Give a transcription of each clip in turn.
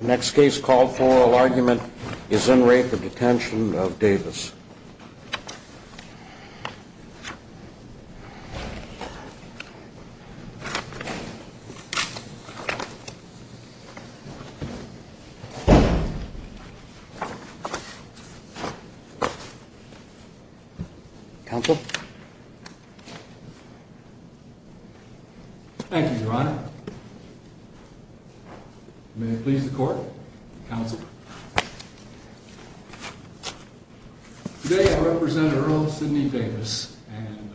Next case called for argument is in rape of Detention of Davis. Council. Thank you, Ron. May it please the court. Today I represent Earl Sidney Davis and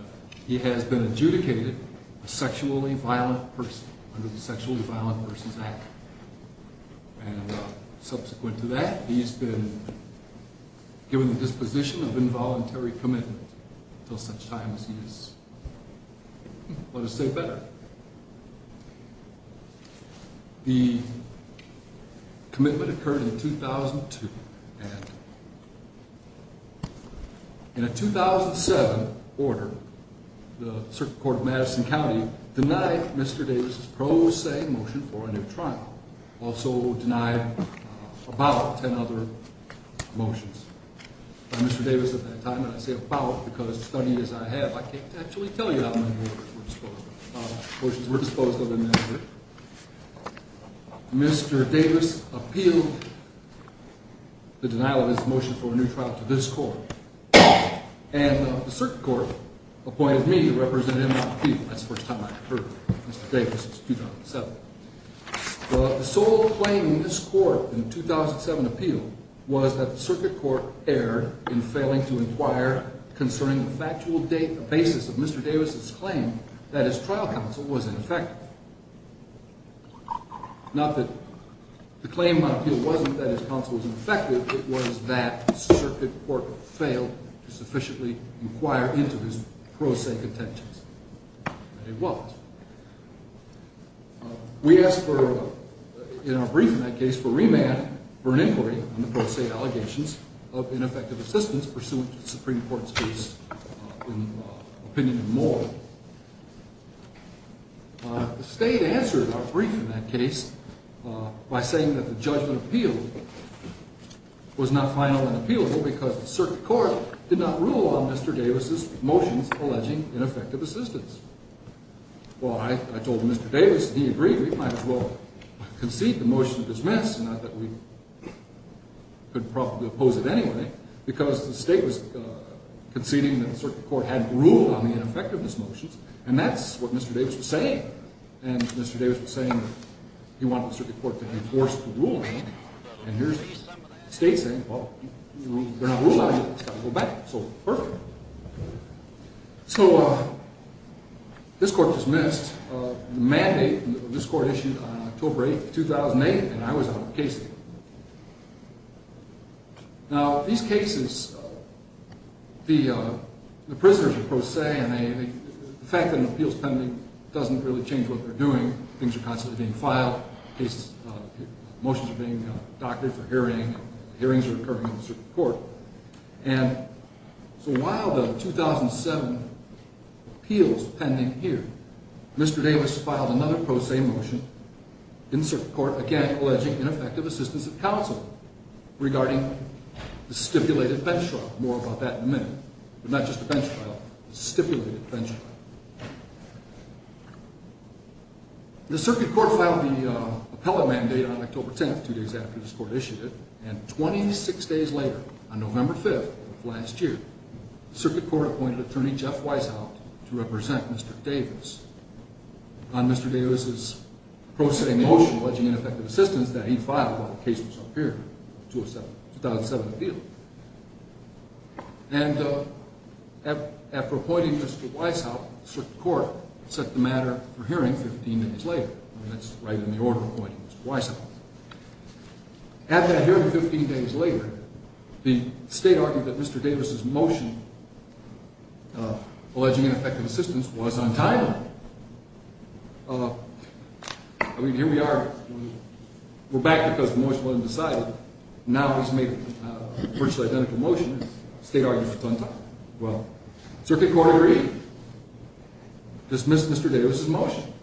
he has been adjudicated a sexually violent person under the Sexually Violent Persons Act and subsequent to that he's been given the disposition of involuntary commitment until such time as he has let us say better. The. Commitment occurred in 2002. In a 2007 order, the Circuit Court of Madison County denied Mr. Davis' pro se motion for a new trial. Also denied about 10 other motions. Mr. Davis at that time. I say about because study is I have. I can't actually tell you how many motions were disposed of in that order. Mr. Davis appealed. The denial of his motion for a new trial to this court and the circuit court appointed me to represent him. I think that's the first time I've heard Mr. Davis since 2007. The sole claim in this court in 2007 appeal was that the circuit court erred in failing to inquire concerning the factual date. The basis of Mr. Davis' claim that his trial counsel was ineffective. Not that the claim on appeal wasn't that his counsel was ineffective. It was that circuit court failed to sufficiently inquire into his pro se contentions. It was. We asked for in our brief in that case for remand for an inquiry on the pro se allegations of ineffective assistance pursuant to the Supreme Court's case in opinion and more. The state answered our brief in that case by saying that the judgment appeal was not final and appealable because the circuit court did not rule on Mr. Davis' motions alleging ineffective assistance. Well, I told Mr. Davis he agreed we might as well concede the motion to dismiss and not that we could probably oppose it anyway because the state was conceding that the circuit court hadn't ruled on the ineffectiveness motions and that's what Mr. Davis was saying. And Mr. Davis was saying he wanted the circuit court to enforce the ruling and here's the state saying, well, they're not ruled on it. It's got to go back. So perfect. So this court dismissed the mandate this court issued on October 8th, 2008, and I was out of the case. Now, these cases, the prisoners of pro se and the fact that an appeals pending doesn't really change what they're doing. Things are constantly being filed. Motions are being doctored for hearing. Hearings are occurring in the circuit court. And so while the 2007 appeals pending here, Mr. Davis filed another pro se motion in circuit court again, alleging ineffective assistance of counsel regarding the stipulated bench trial. More about that in a minute, but not just a bench trial, stipulated bench trial. The circuit court filed the appellate mandate on October 10th, two days after this court issued it. And 26 days later, on November 5th of last year, the circuit court appointed attorney Jeff Weishaupt to represent Mr. Davis on Mr. Davis' pro se motion alleging ineffective assistance that he filed while the case was up here, 2007 appeals. And after appointing Mr. Weishaupt, circuit court set the matter for hearing 15 days later. That's right in the order of appointing Mr. Weishaupt. At that hearing 15 days later, the state argued that Mr. Davis' motion alleging ineffective assistance was untimely. I mean, here we are. We're back because the motion wasn't decided. Now he's made a virtually identical motion. The state argued it was untimely. Well, circuit court agreed. Dismissed Mr. Davis' motion.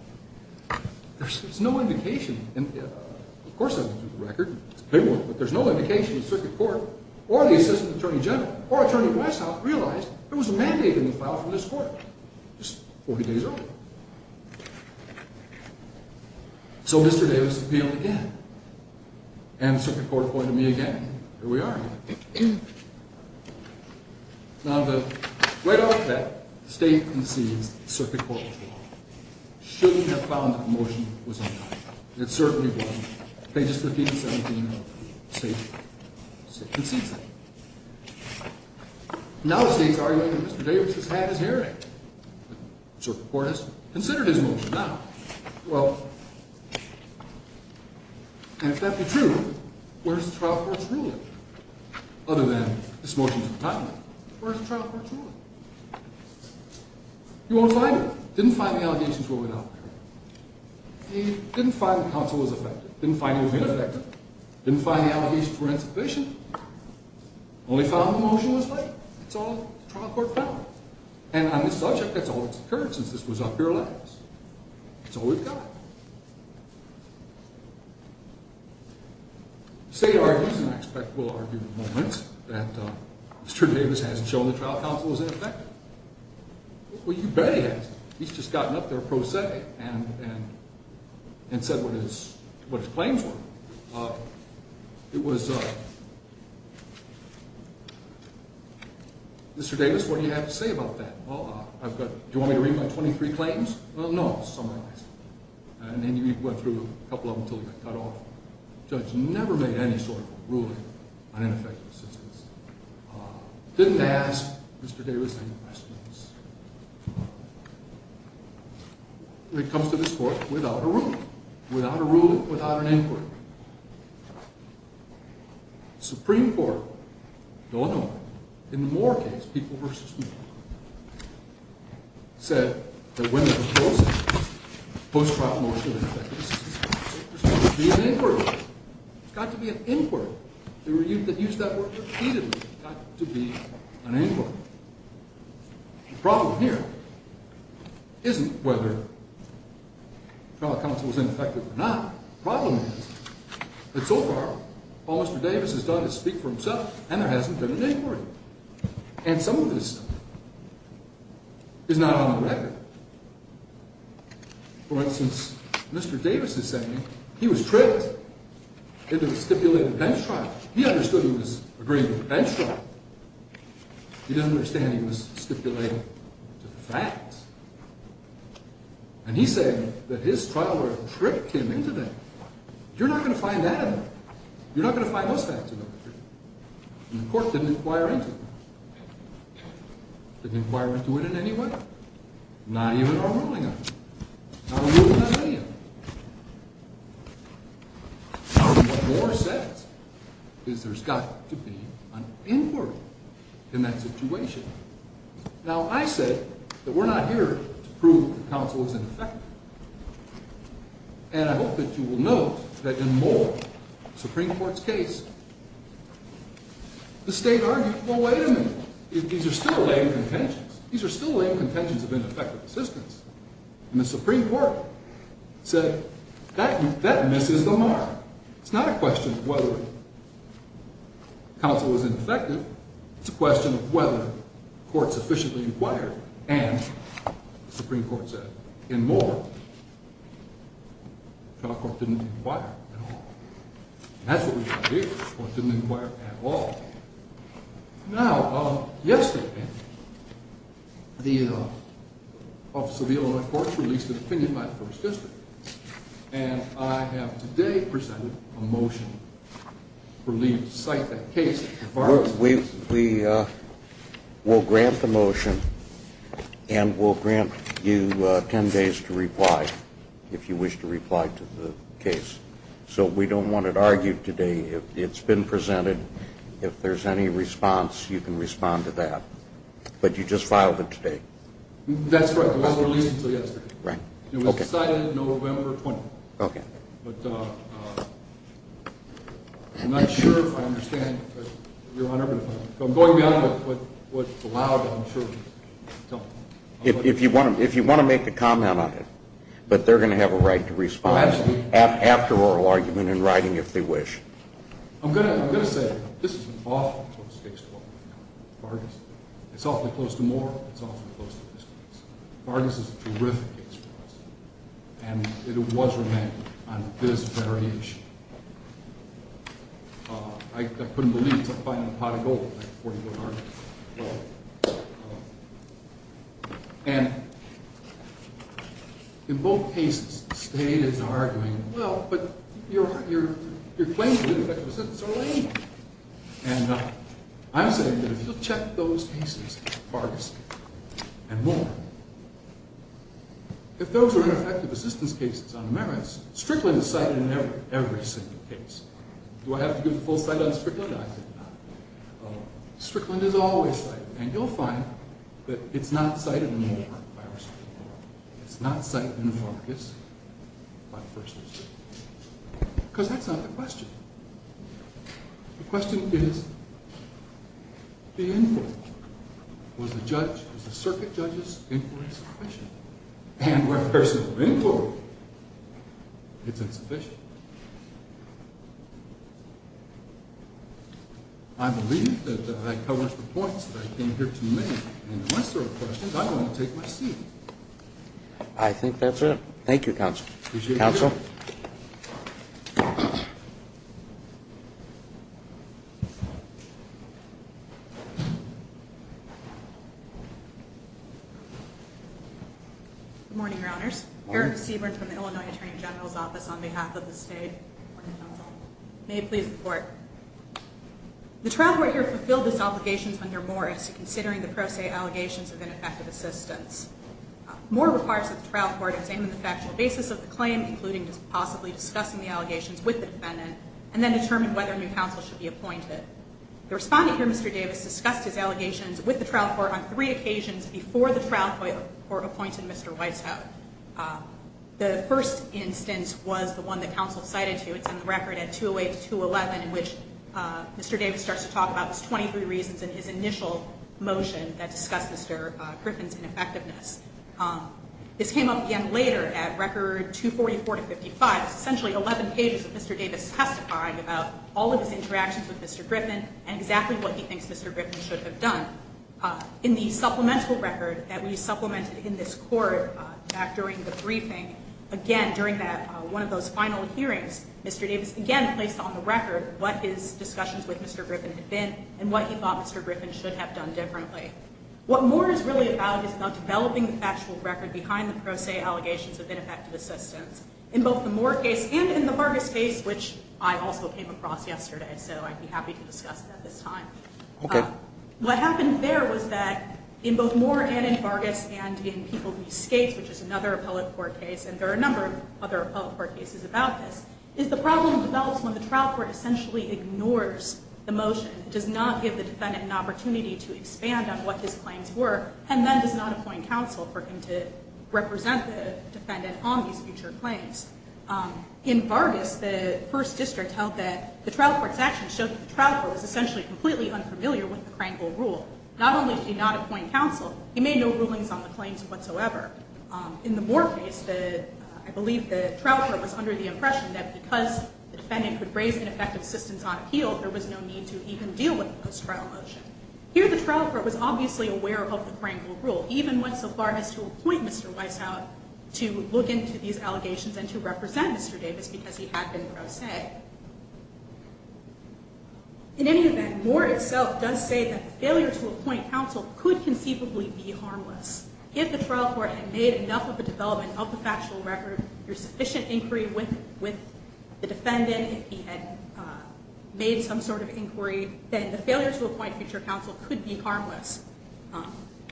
There's no indication. And of course, I've been through the record. It's paperwork, but there's no indication the circuit court or the assistant attorney general or attorney Weishaupt realized there was a mandate in the file from this court. Just 40 days earlier. So Mr. Davis appealed again. And circuit court appointed me again. Here we are. Now, right off the bat, the state concedes the circuit court was wrong. Shouldn't have found that the motion was untimely. It certainly wasn't. They just defeated 17-0. The state concedes that. Now the state's arguing that Mr. Davis has had his hearing. Circuit court has considered his motion now. Well, and if that be true, where's the trial court's ruling? Other than this motion's untimely. Where's the trial court's ruling? You won't find it. Didn't find the allegations rolling out there. He didn't find the counsel was affected. Didn't find it was ineffective. Didn't find the allegations were insufficient. Only found the motion was late. That's all the trial court found. And on this subject, that's all that's occurred since this was up here last. That's all we've got. The state argues, and I expect we'll argue in a moment, that Mr. Davis hasn't shown the trial counsel was ineffective. Well, you bet he hasn't. He's just gotten up there pro se and, and, and said what his, what his claims were. It was, Mr. Davis, what do you have to say about that? Well, I've got, do you want me to read my 23 claims? Well, no, summarized. And then you went through a couple of them until you got cut off. Judge never made any sort of ruling on ineffective assistance. Didn't ask Mr. Davis. Any questions? When it comes to this court without a rule, without a rule, without an inquiry, Supreme Court. Don't know. In the more case, people versus me, said that women, post-trial motion. It's got to be an inquiry. They were used to use that word repeatedly to be an inquiry. Problem here. Isn't whether trial counsel was ineffective or not. Problem is that so far, all Mr. Davis has done is speak for himself and there hasn't been an inquiry. And some of this is not on the record. For instance, Mr. Davis is saying he was tripped. It is a stipulated bench trial. He understood who was agreeing to the bench trial. He didn't understand he was stipulated to the facts. And he said that his trial work tripped him into that. You're not going to find that in there. You're not going to find those facts in there. And the court didn't inquire into it. Didn't inquire into it in any way. Not even our ruling on it. Not a ruling on any of it. What Moore says is there's got to be an inquiry in that situation. Now, I said that we're not here to prove that counsel is ineffective. And I hope that you will note that in Moore, the Supreme Court's case, the state argued, well, wait a minute. These are still lame contentions. These are still lame contentions of ineffective assistance. And the Supreme Court said that misses the mark. It's not a question of whether counsel was ineffective. It's a question of whether the court sufficiently inquired. And the Supreme Court said, in Moore, the trial court didn't inquire at all. That's what we want to do. The court didn't inquire at all. Now, yesterday, the Office of the Illinois Courts released an opinion by the First District. And I have today presented a motion for leave to cite that case. We will grant the motion. And we'll grant you 10 days to reply, if you wish to reply to the case. So we don't want it argued today. It's been presented. If there's any response, you can respond to that. But you just filed it today. That's right. It wasn't released until yesterday. Right. It was cited November 20th. Okay. But I'm not sure if I understand. I'm going beyond what's allowed, I'm sure. If you want to make a comment on it, but they're going to have a right to respond. Absolutely. After oral argument and writing, if they wish. I'm going to say this is an awfully close case for us. It's awfully close to Moore. It's awfully close to this case. Vargas is a terrific case for us. And it was remanded on this very issue. I couldn't believe it until finally pot of gold in that 40-vote argument. And in both cases, the state is arguing, well, but your claims of ineffective assistance are lame. And I'm saying that if you'll check those cases, Vargas and Moore, if those are ineffective assistance cases on merits, Strickland is cited in every single case. Do I have to give the full cite on Strickland? I think not. Strickland is always cited. And you'll find that it's not cited in Moore by our Supreme Court. It's not cited in Vargas by the First District. Because that's not the question. The question is the inquiry. Was the circuit judge's inquiry sufficient? And where there's no inquiry, it's insufficient. I believe that I covered the points that I came here to make. And unless there are questions, I'm going to take my seat. I think that's it. Thank you, Counsel. Appreciate it. Counsel? Good morning, Your Honors. Eric Seaborn from the Illinois Attorney General's Office on behalf of the state. Good morning, Counsel. May it please the Court. The trial court here fulfilled its obligations under Morris, considering the pro se allegations of ineffective assistance. Moore requires that the trial court examine the factual basis of the claim, including possibly discussing the allegations with the defendant, and then determine whether a new counsel should be appointed. The respondent here, Mr. Davis, discussed his allegations with the trial court on three occasions before the trial court appointed Mr. Weishaupt. The first instance was the one that counsel cited to you. It was in the record at 208 to 211 in which Mr. Davis starts to talk about his 23 reasons in his initial motion that discussed Mr. Griffin's ineffectiveness. This came up again later at record 244 to 55. It's essentially 11 pages of Mr. Davis testifying about all of his interactions with Mr. Griffin and exactly what he thinks Mr. Griffin should have done. In the supplemental record that we supplemented in this court back during the briefing, again, during one of those final hearings, Mr. Davis again placed on the record what his discussions with Mr. Griffin had been and what he thought Mr. Griffin should have done differently. What Moore is really about is about developing the factual record behind the pro se allegations of ineffective assistance. In both the Moore case and in the Vargas case, which I also came across yesterday, so I'd be happy to discuss that this time. Okay. What happened there was that in both Moore and in Vargas and in people who use skates, which is another appellate court case, and there are a number of other appellate court cases about this, is the problem develops when the trial court essentially ignores the motion. It does not give the defendant an opportunity to expand on what his claims were and then does not appoint counsel for him to represent the defendant on these future claims. In Vargas, the first district held that the trial court's actions showed that the trial court was essentially completely unfamiliar with the Krankel rule. Not only did he not appoint counsel, he made no rulings on the claims whatsoever. In the Moore case, I believe the trial court was under the impression that because the defendant could raise ineffective assistance on appeal, there was no need to even deal with the post-trial motion. Here the trial court was obviously aware of the Krankel rule, even went so far as to appoint Mr. Weishaupt to look into these allegations and to represent Mr. Davis because he had been pro se. In any event, Moore itself does say that the failure to appoint counsel could conceivably be harmless. If the trial court had made enough of a development of the factual record, there's sufficient inquiry with the defendant, if he had made some sort of inquiry, then the failure to appoint future counsel could be harmless.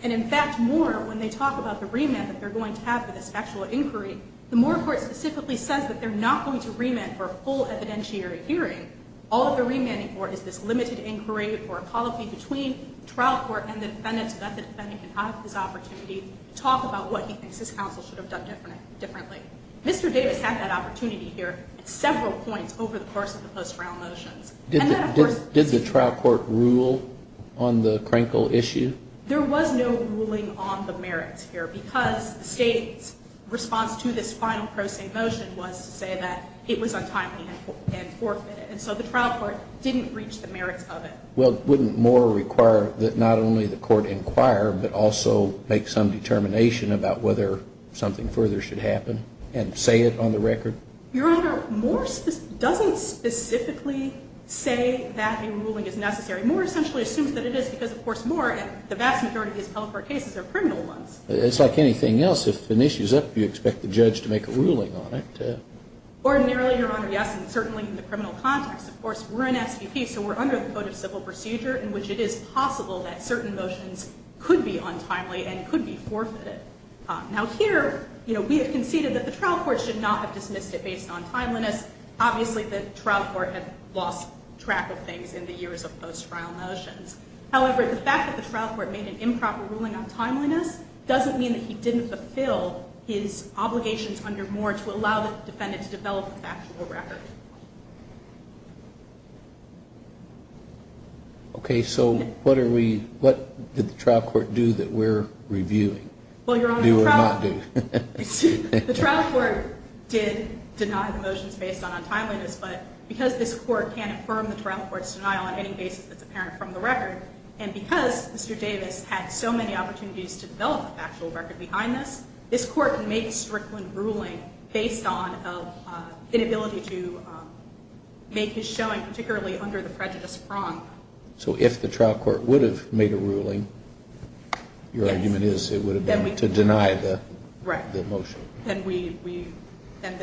And in fact, Moore, when they talk about the remand that they're going to have for this factual inquiry, the Moore court specifically says that they're not going to remand for a full evidentiary hearing. All the remanding for is this limited inquiry for a policy between trial court and the defendant so that the defendant can have this opportunity to talk about what he thinks his counsel should have done differently. Mr. Davis had that opportunity here at several points over the course of the post-trial motions. Did the trial court rule on the Krankel issue? There was no ruling on the merits here because the state's response to this final pro se motion was to say that it was untimely and forfeited. And so the trial court didn't reach the merits of it. Well, wouldn't Moore require that not only the court inquire, but also make some determination about whether something further should happen and say it on the record? Your Honor, Moore doesn't specifically say that a ruling is necessary. Moore essentially assumes that it is because, of course, Moore and the vast majority of his public court cases are criminal ones. It's like anything else. If an issue is up, you expect the judge to make a ruling on it. Ordinarily, Your Honor, yes, and certainly in the criminal context. Of course, we're an SVP, so we're under the Code of Civil Procedure, in which it is possible that certain motions could be untimely and could be forfeited. Now, here, you know, we have conceded that the trial court should not have dismissed it based on timeliness. Obviously, the trial court had lost track of things in the years of post-trial motions. However, the fact that the trial court made an improper ruling on timeliness doesn't mean that he didn't fulfill his obligations under Moore to allow the motion. Okay, so what did the trial court do that we're reviewing? Well, Your Honor, the trial court did deny the motions based on timeliness, but because this court can't affirm the trial court's denial on any basis that's apparent from the record, and because Mr. Davis had so many opportunities to develop the factual record behind this, this court made a strickland ruling based on an inability to make his showing particularly under the prejudice prong. So if the trial court would have made a ruling, your argument is it would have been to deny the motion. Right. Then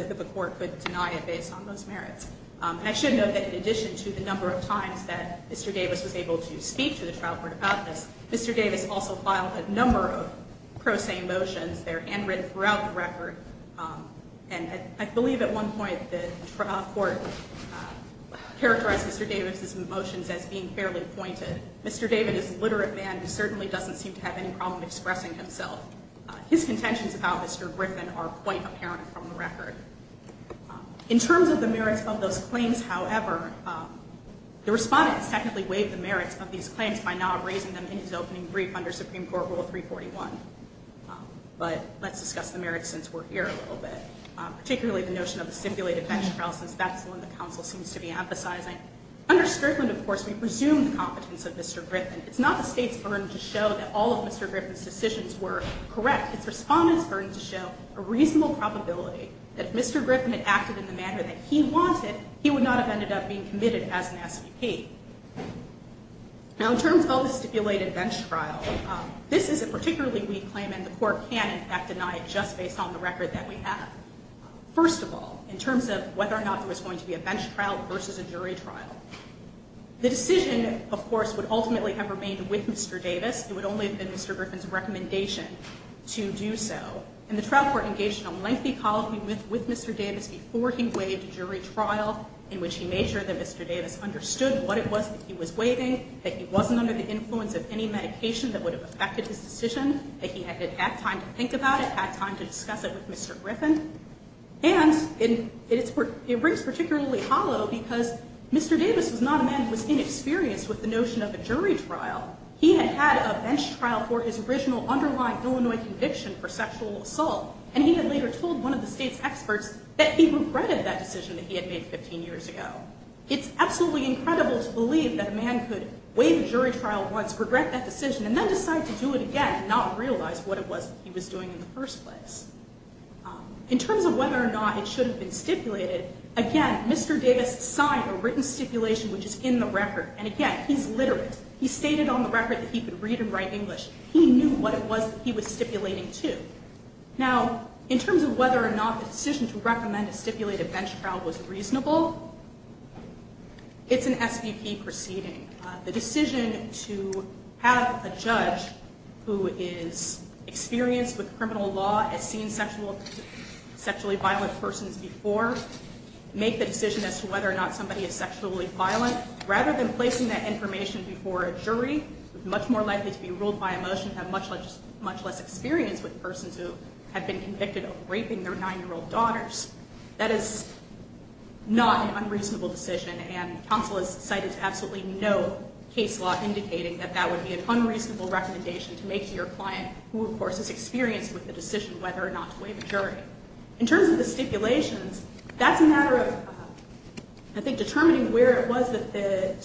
the court could deny it based on those merits. I should note that in addition to the number of times that Mr. Davis was able to speak to the trial court about this, Mr. Davis also filed a number of prosaic motions. They're handwritten throughout the record, and I believe at one point the trial court characterized Mr. Davis's motions as being fairly pointed. Mr. Davis is a literate man who certainly doesn't seem to have any problem expressing himself. His contentions about Mr. Griffin are quite apparent from the record. In terms of the merits of those claims, however, the Respondent technically waived the merits of these claims by not raising them in his opening brief under Supreme Court Rule 341. But let's discuss the merits since we're here a little bit, particularly the notion of a stipulated bench trial, since that's the one the counsel seems to be emphasizing. Under strickland, of course, we presume the competence of Mr. Griffin. It's not the State's burden to show that all of Mr. Griffin's decisions were correct. It's Respondent's burden to show a reasonable probability that if Mr. Griffin had acted in the manner that he wanted, he would not have ended up being committed as an SPP. Now, in terms of the stipulated bench trial, this is a particularly weak claim and the Court can, in fact, deny it just based on the record that we have. First of all, in terms of whether or not there was going to be a bench trial versus a jury trial, the decision, of course, would ultimately have remained with Mr. Davis. It would only have been Mr. Griffin's recommendation to do so. And the trial court engaged in a lengthy colloquy with Mr. Davis before he waived the jury trial in which he made sure that Mr. Davis understood what it was that he was waiving, that he wasn't under the influence of any medication that would have affected his decision, that he had had time to think about it, had time to discuss it with Mr. Griffin. And it breaks particularly hollow because Mr. Davis was not a man who was inexperienced with the notion of a jury trial. He had had a bench trial for his original underlying Illinois conviction for sexual assault and he had later told one of the State's experts that he regretted that decision that he had made 15 years ago. It's absolutely incredible to believe that a man could waive a jury trial once, regret that decision, and then decide to do it again and not realize what it was that he was doing in the first place. In terms of whether or not it should have been stipulated, again, Mr. Davis signed a written stipulation which is in the record. And again, he's literate. He stated on the record that he could read and write English. He knew what it was that he was stipulating to. Now, in terms of whether or not the decision to recommend a stipulated bench trial was reasonable, it's an SVP proceeding. The decision to have a judge who is experienced with criminal law, has seen sexually violent persons before, make the decision as to whether or not somebody is sexually violent, rather than placing that information before a jury, much more likely to be ruled by emotion, have much less experience with persons who have been convicted of raping their nine-year-old daughters. That is not an unreasonable decision, and counsel has cited absolutely no case law indicating that that would be an unreasonable recommendation to make to your client, who of course is experienced with the decision whether or not to waive a jury. In terms of the stipulations, that's a matter of, I think, determining where it was that the,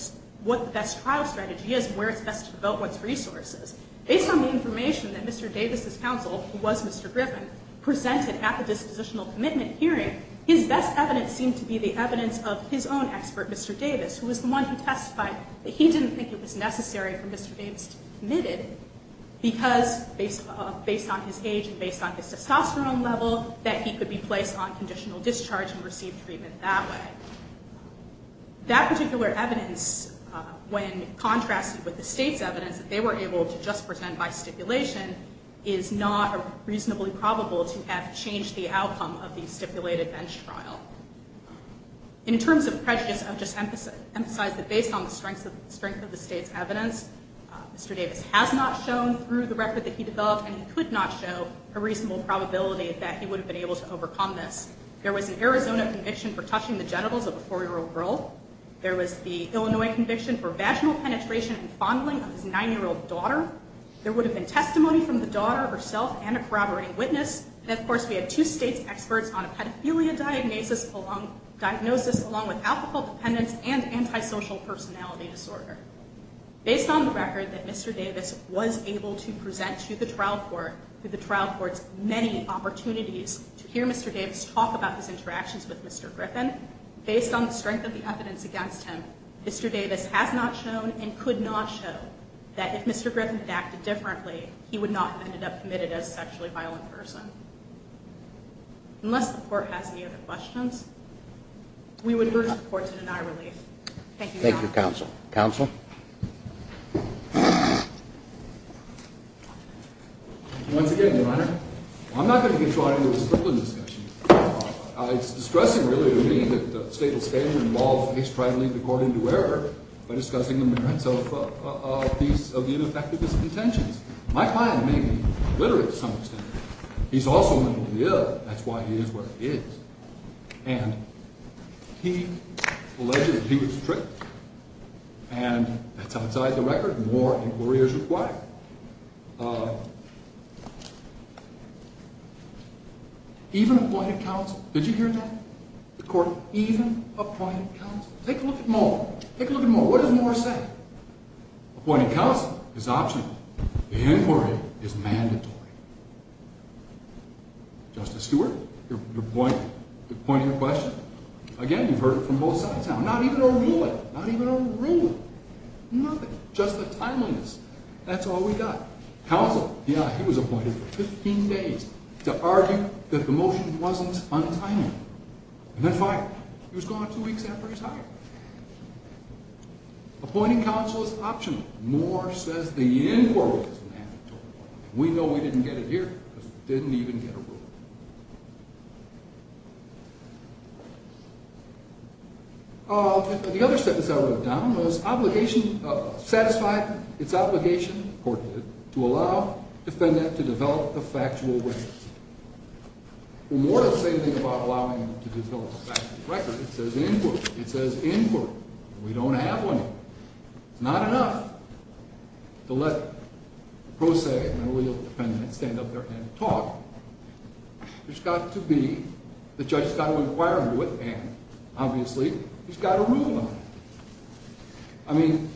what the best trial strategy is, and where it's best to devote one's resources. Based on the information that Mr. Davis' counsel, who was Mr. Griffin, presented at the dispositional commitment hearing, his best evidence seemed to be the evidence of his own expert, Mr. Davis, who was the one who testified that he didn't think it was necessary for Mr. Davis to be committed, because based on his age and based on his testosterone level, that he could be placed on conditional discharge and receive treatment that way. That particular evidence, when contrasted with the state's evidence that they were able to just present by stipulation, is not reasonably probable to have changed the outcome of the stipulated bench trial. In terms of prejudice, I would just emphasize that based on the strength of the state's evidence, Mr. Davis has not shown through the record that he developed, and he could not show a reasonable probability that he would have been able to overcome this. There was an Arizona conviction for touching the genitals of a four-year-old girl. There was the Illinois conviction for vaginal penetration and fondling of his nine-year-old daughter. There would have been testimony from the daughter herself and a corroborating witness. And, of course, we had two states' experts on a pedophilia diagnosis along with alcohol dependence and antisocial personality disorder. Based on the record that Mr. Davis was able to present to the trial court, many opportunities to hear Mr. Davis talk about his interactions with Mr. Griffin, based on the strength of the evidence against him, Mr. Davis has not shown and could not show that if Mr. Griffin had acted differently, he would not have ended up committed as a sexually violent person. Unless the Court has any other questions, we would urge the Court to deny relief. Thank you, Your Honor. Thank you, Counsel. Counsel? Once again, Your Honor, I'm not going to get drawn into the Strickland discussion. It's distressing, really, to me that the state will stand and involve his trying to lead the Court into error by discussing the merits of the ineffectiveness of contentions. My client may be literate to some extent. He's also mentally ill. That's why he is what he is. And he alleged that he was tricked. And that's outside the record. More inquiry is required. Even appointed counsel. Did you hear that? The Court even appointed counsel. Take a look at Moore. Take a look at Moore. What does Moore say? Appointed counsel is optional. The inquiry is mandatory. Justice Stewart, you're pointing your question. Again, you've heard it from both sides now. Not even a ruling. Not even a ruling. Nothing. Just the timeliness. That's all we got. Counsel, yeah, he was appointed for 15 days to argue that the motion wasn't untimely. And then finally, he was gone two weeks after he was hired. Appointing counsel is optional. Moore says the inquiry is mandatory. We know we didn't get it here. Didn't even get a ruling. The other sentence I wrote down was obligation, satisfied its obligation, the Court did, to allow defendant to develop a factual record. Moore doesn't say anything about allowing him to develop a factual record. It says inquiry. It says inquiry. We don't have one. It's not enough to let a pro se and a legal defendant stand up there and talk. There's got to be, the judge has got to inquire into it, and obviously he's got to rule on it. I mean,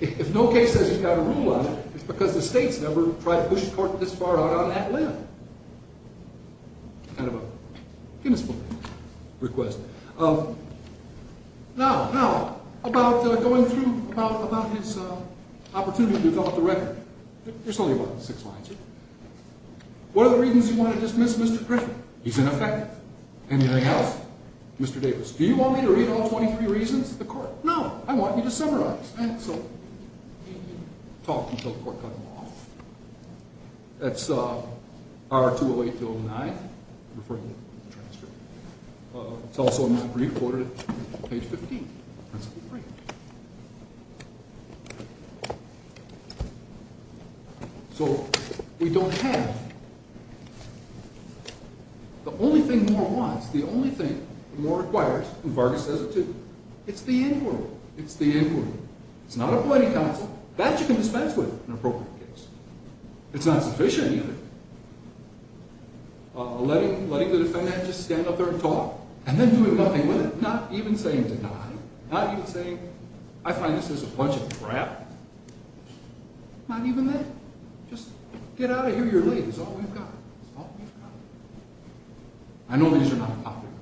if no case says he's got to rule on it, it's because the state's never tried to push a court this far out on that limb. Kind of a guinness book request. Now, about going through, about his opportunity to develop the record. There's only about six lines here. What are the reasons you want to dismiss Mr. Griffin? He's ineffective. Anything else? Mr. Davis, do you want me to read all 23 reasons? The Court, no. I want you to summarize. And so he talked until the Court cut him off. That's R-208-209, referring to the transcript. It's also in my brief ordered at page 15. So we don't have, the only thing Moore wants, the only thing Moore requires, and Vargas says it too, it's the end world. It's the end world. It's not a plenty counsel. That you can dispense with in an appropriate case. It's not sufficient either. Letting the defendant just stand up there and talk, and then doing nothing with it. Not even saying deny. Not even saying, I find this is a bunch of crap. Not even that. Just get out of here, you're late. That's all we've got. That's all we've got. I know these are not popular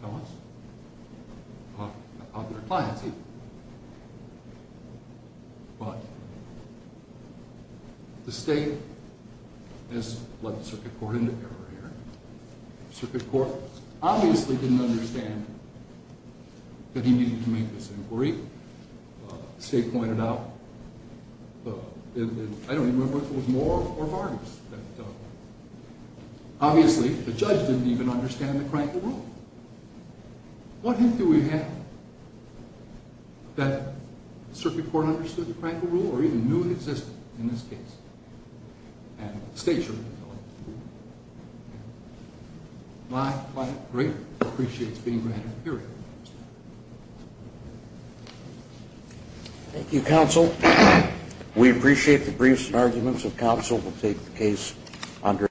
with us. Not popular clients either. But the state has led the Circuit Court into error here. Circuit Court obviously didn't understand that he needed to make this inquiry. The state pointed out, I don't remember if it was Moore or Vargas, that obviously the judge didn't even understand the crank of the rule. What hint do we have? That Circuit Court understood the crank of the rule or even knew it existed in this case. And the state should know it. My client, great, appreciates being granted a period. Thank you, counsel. We appreciate the briefs and arguments of counsel. We'll take the case under.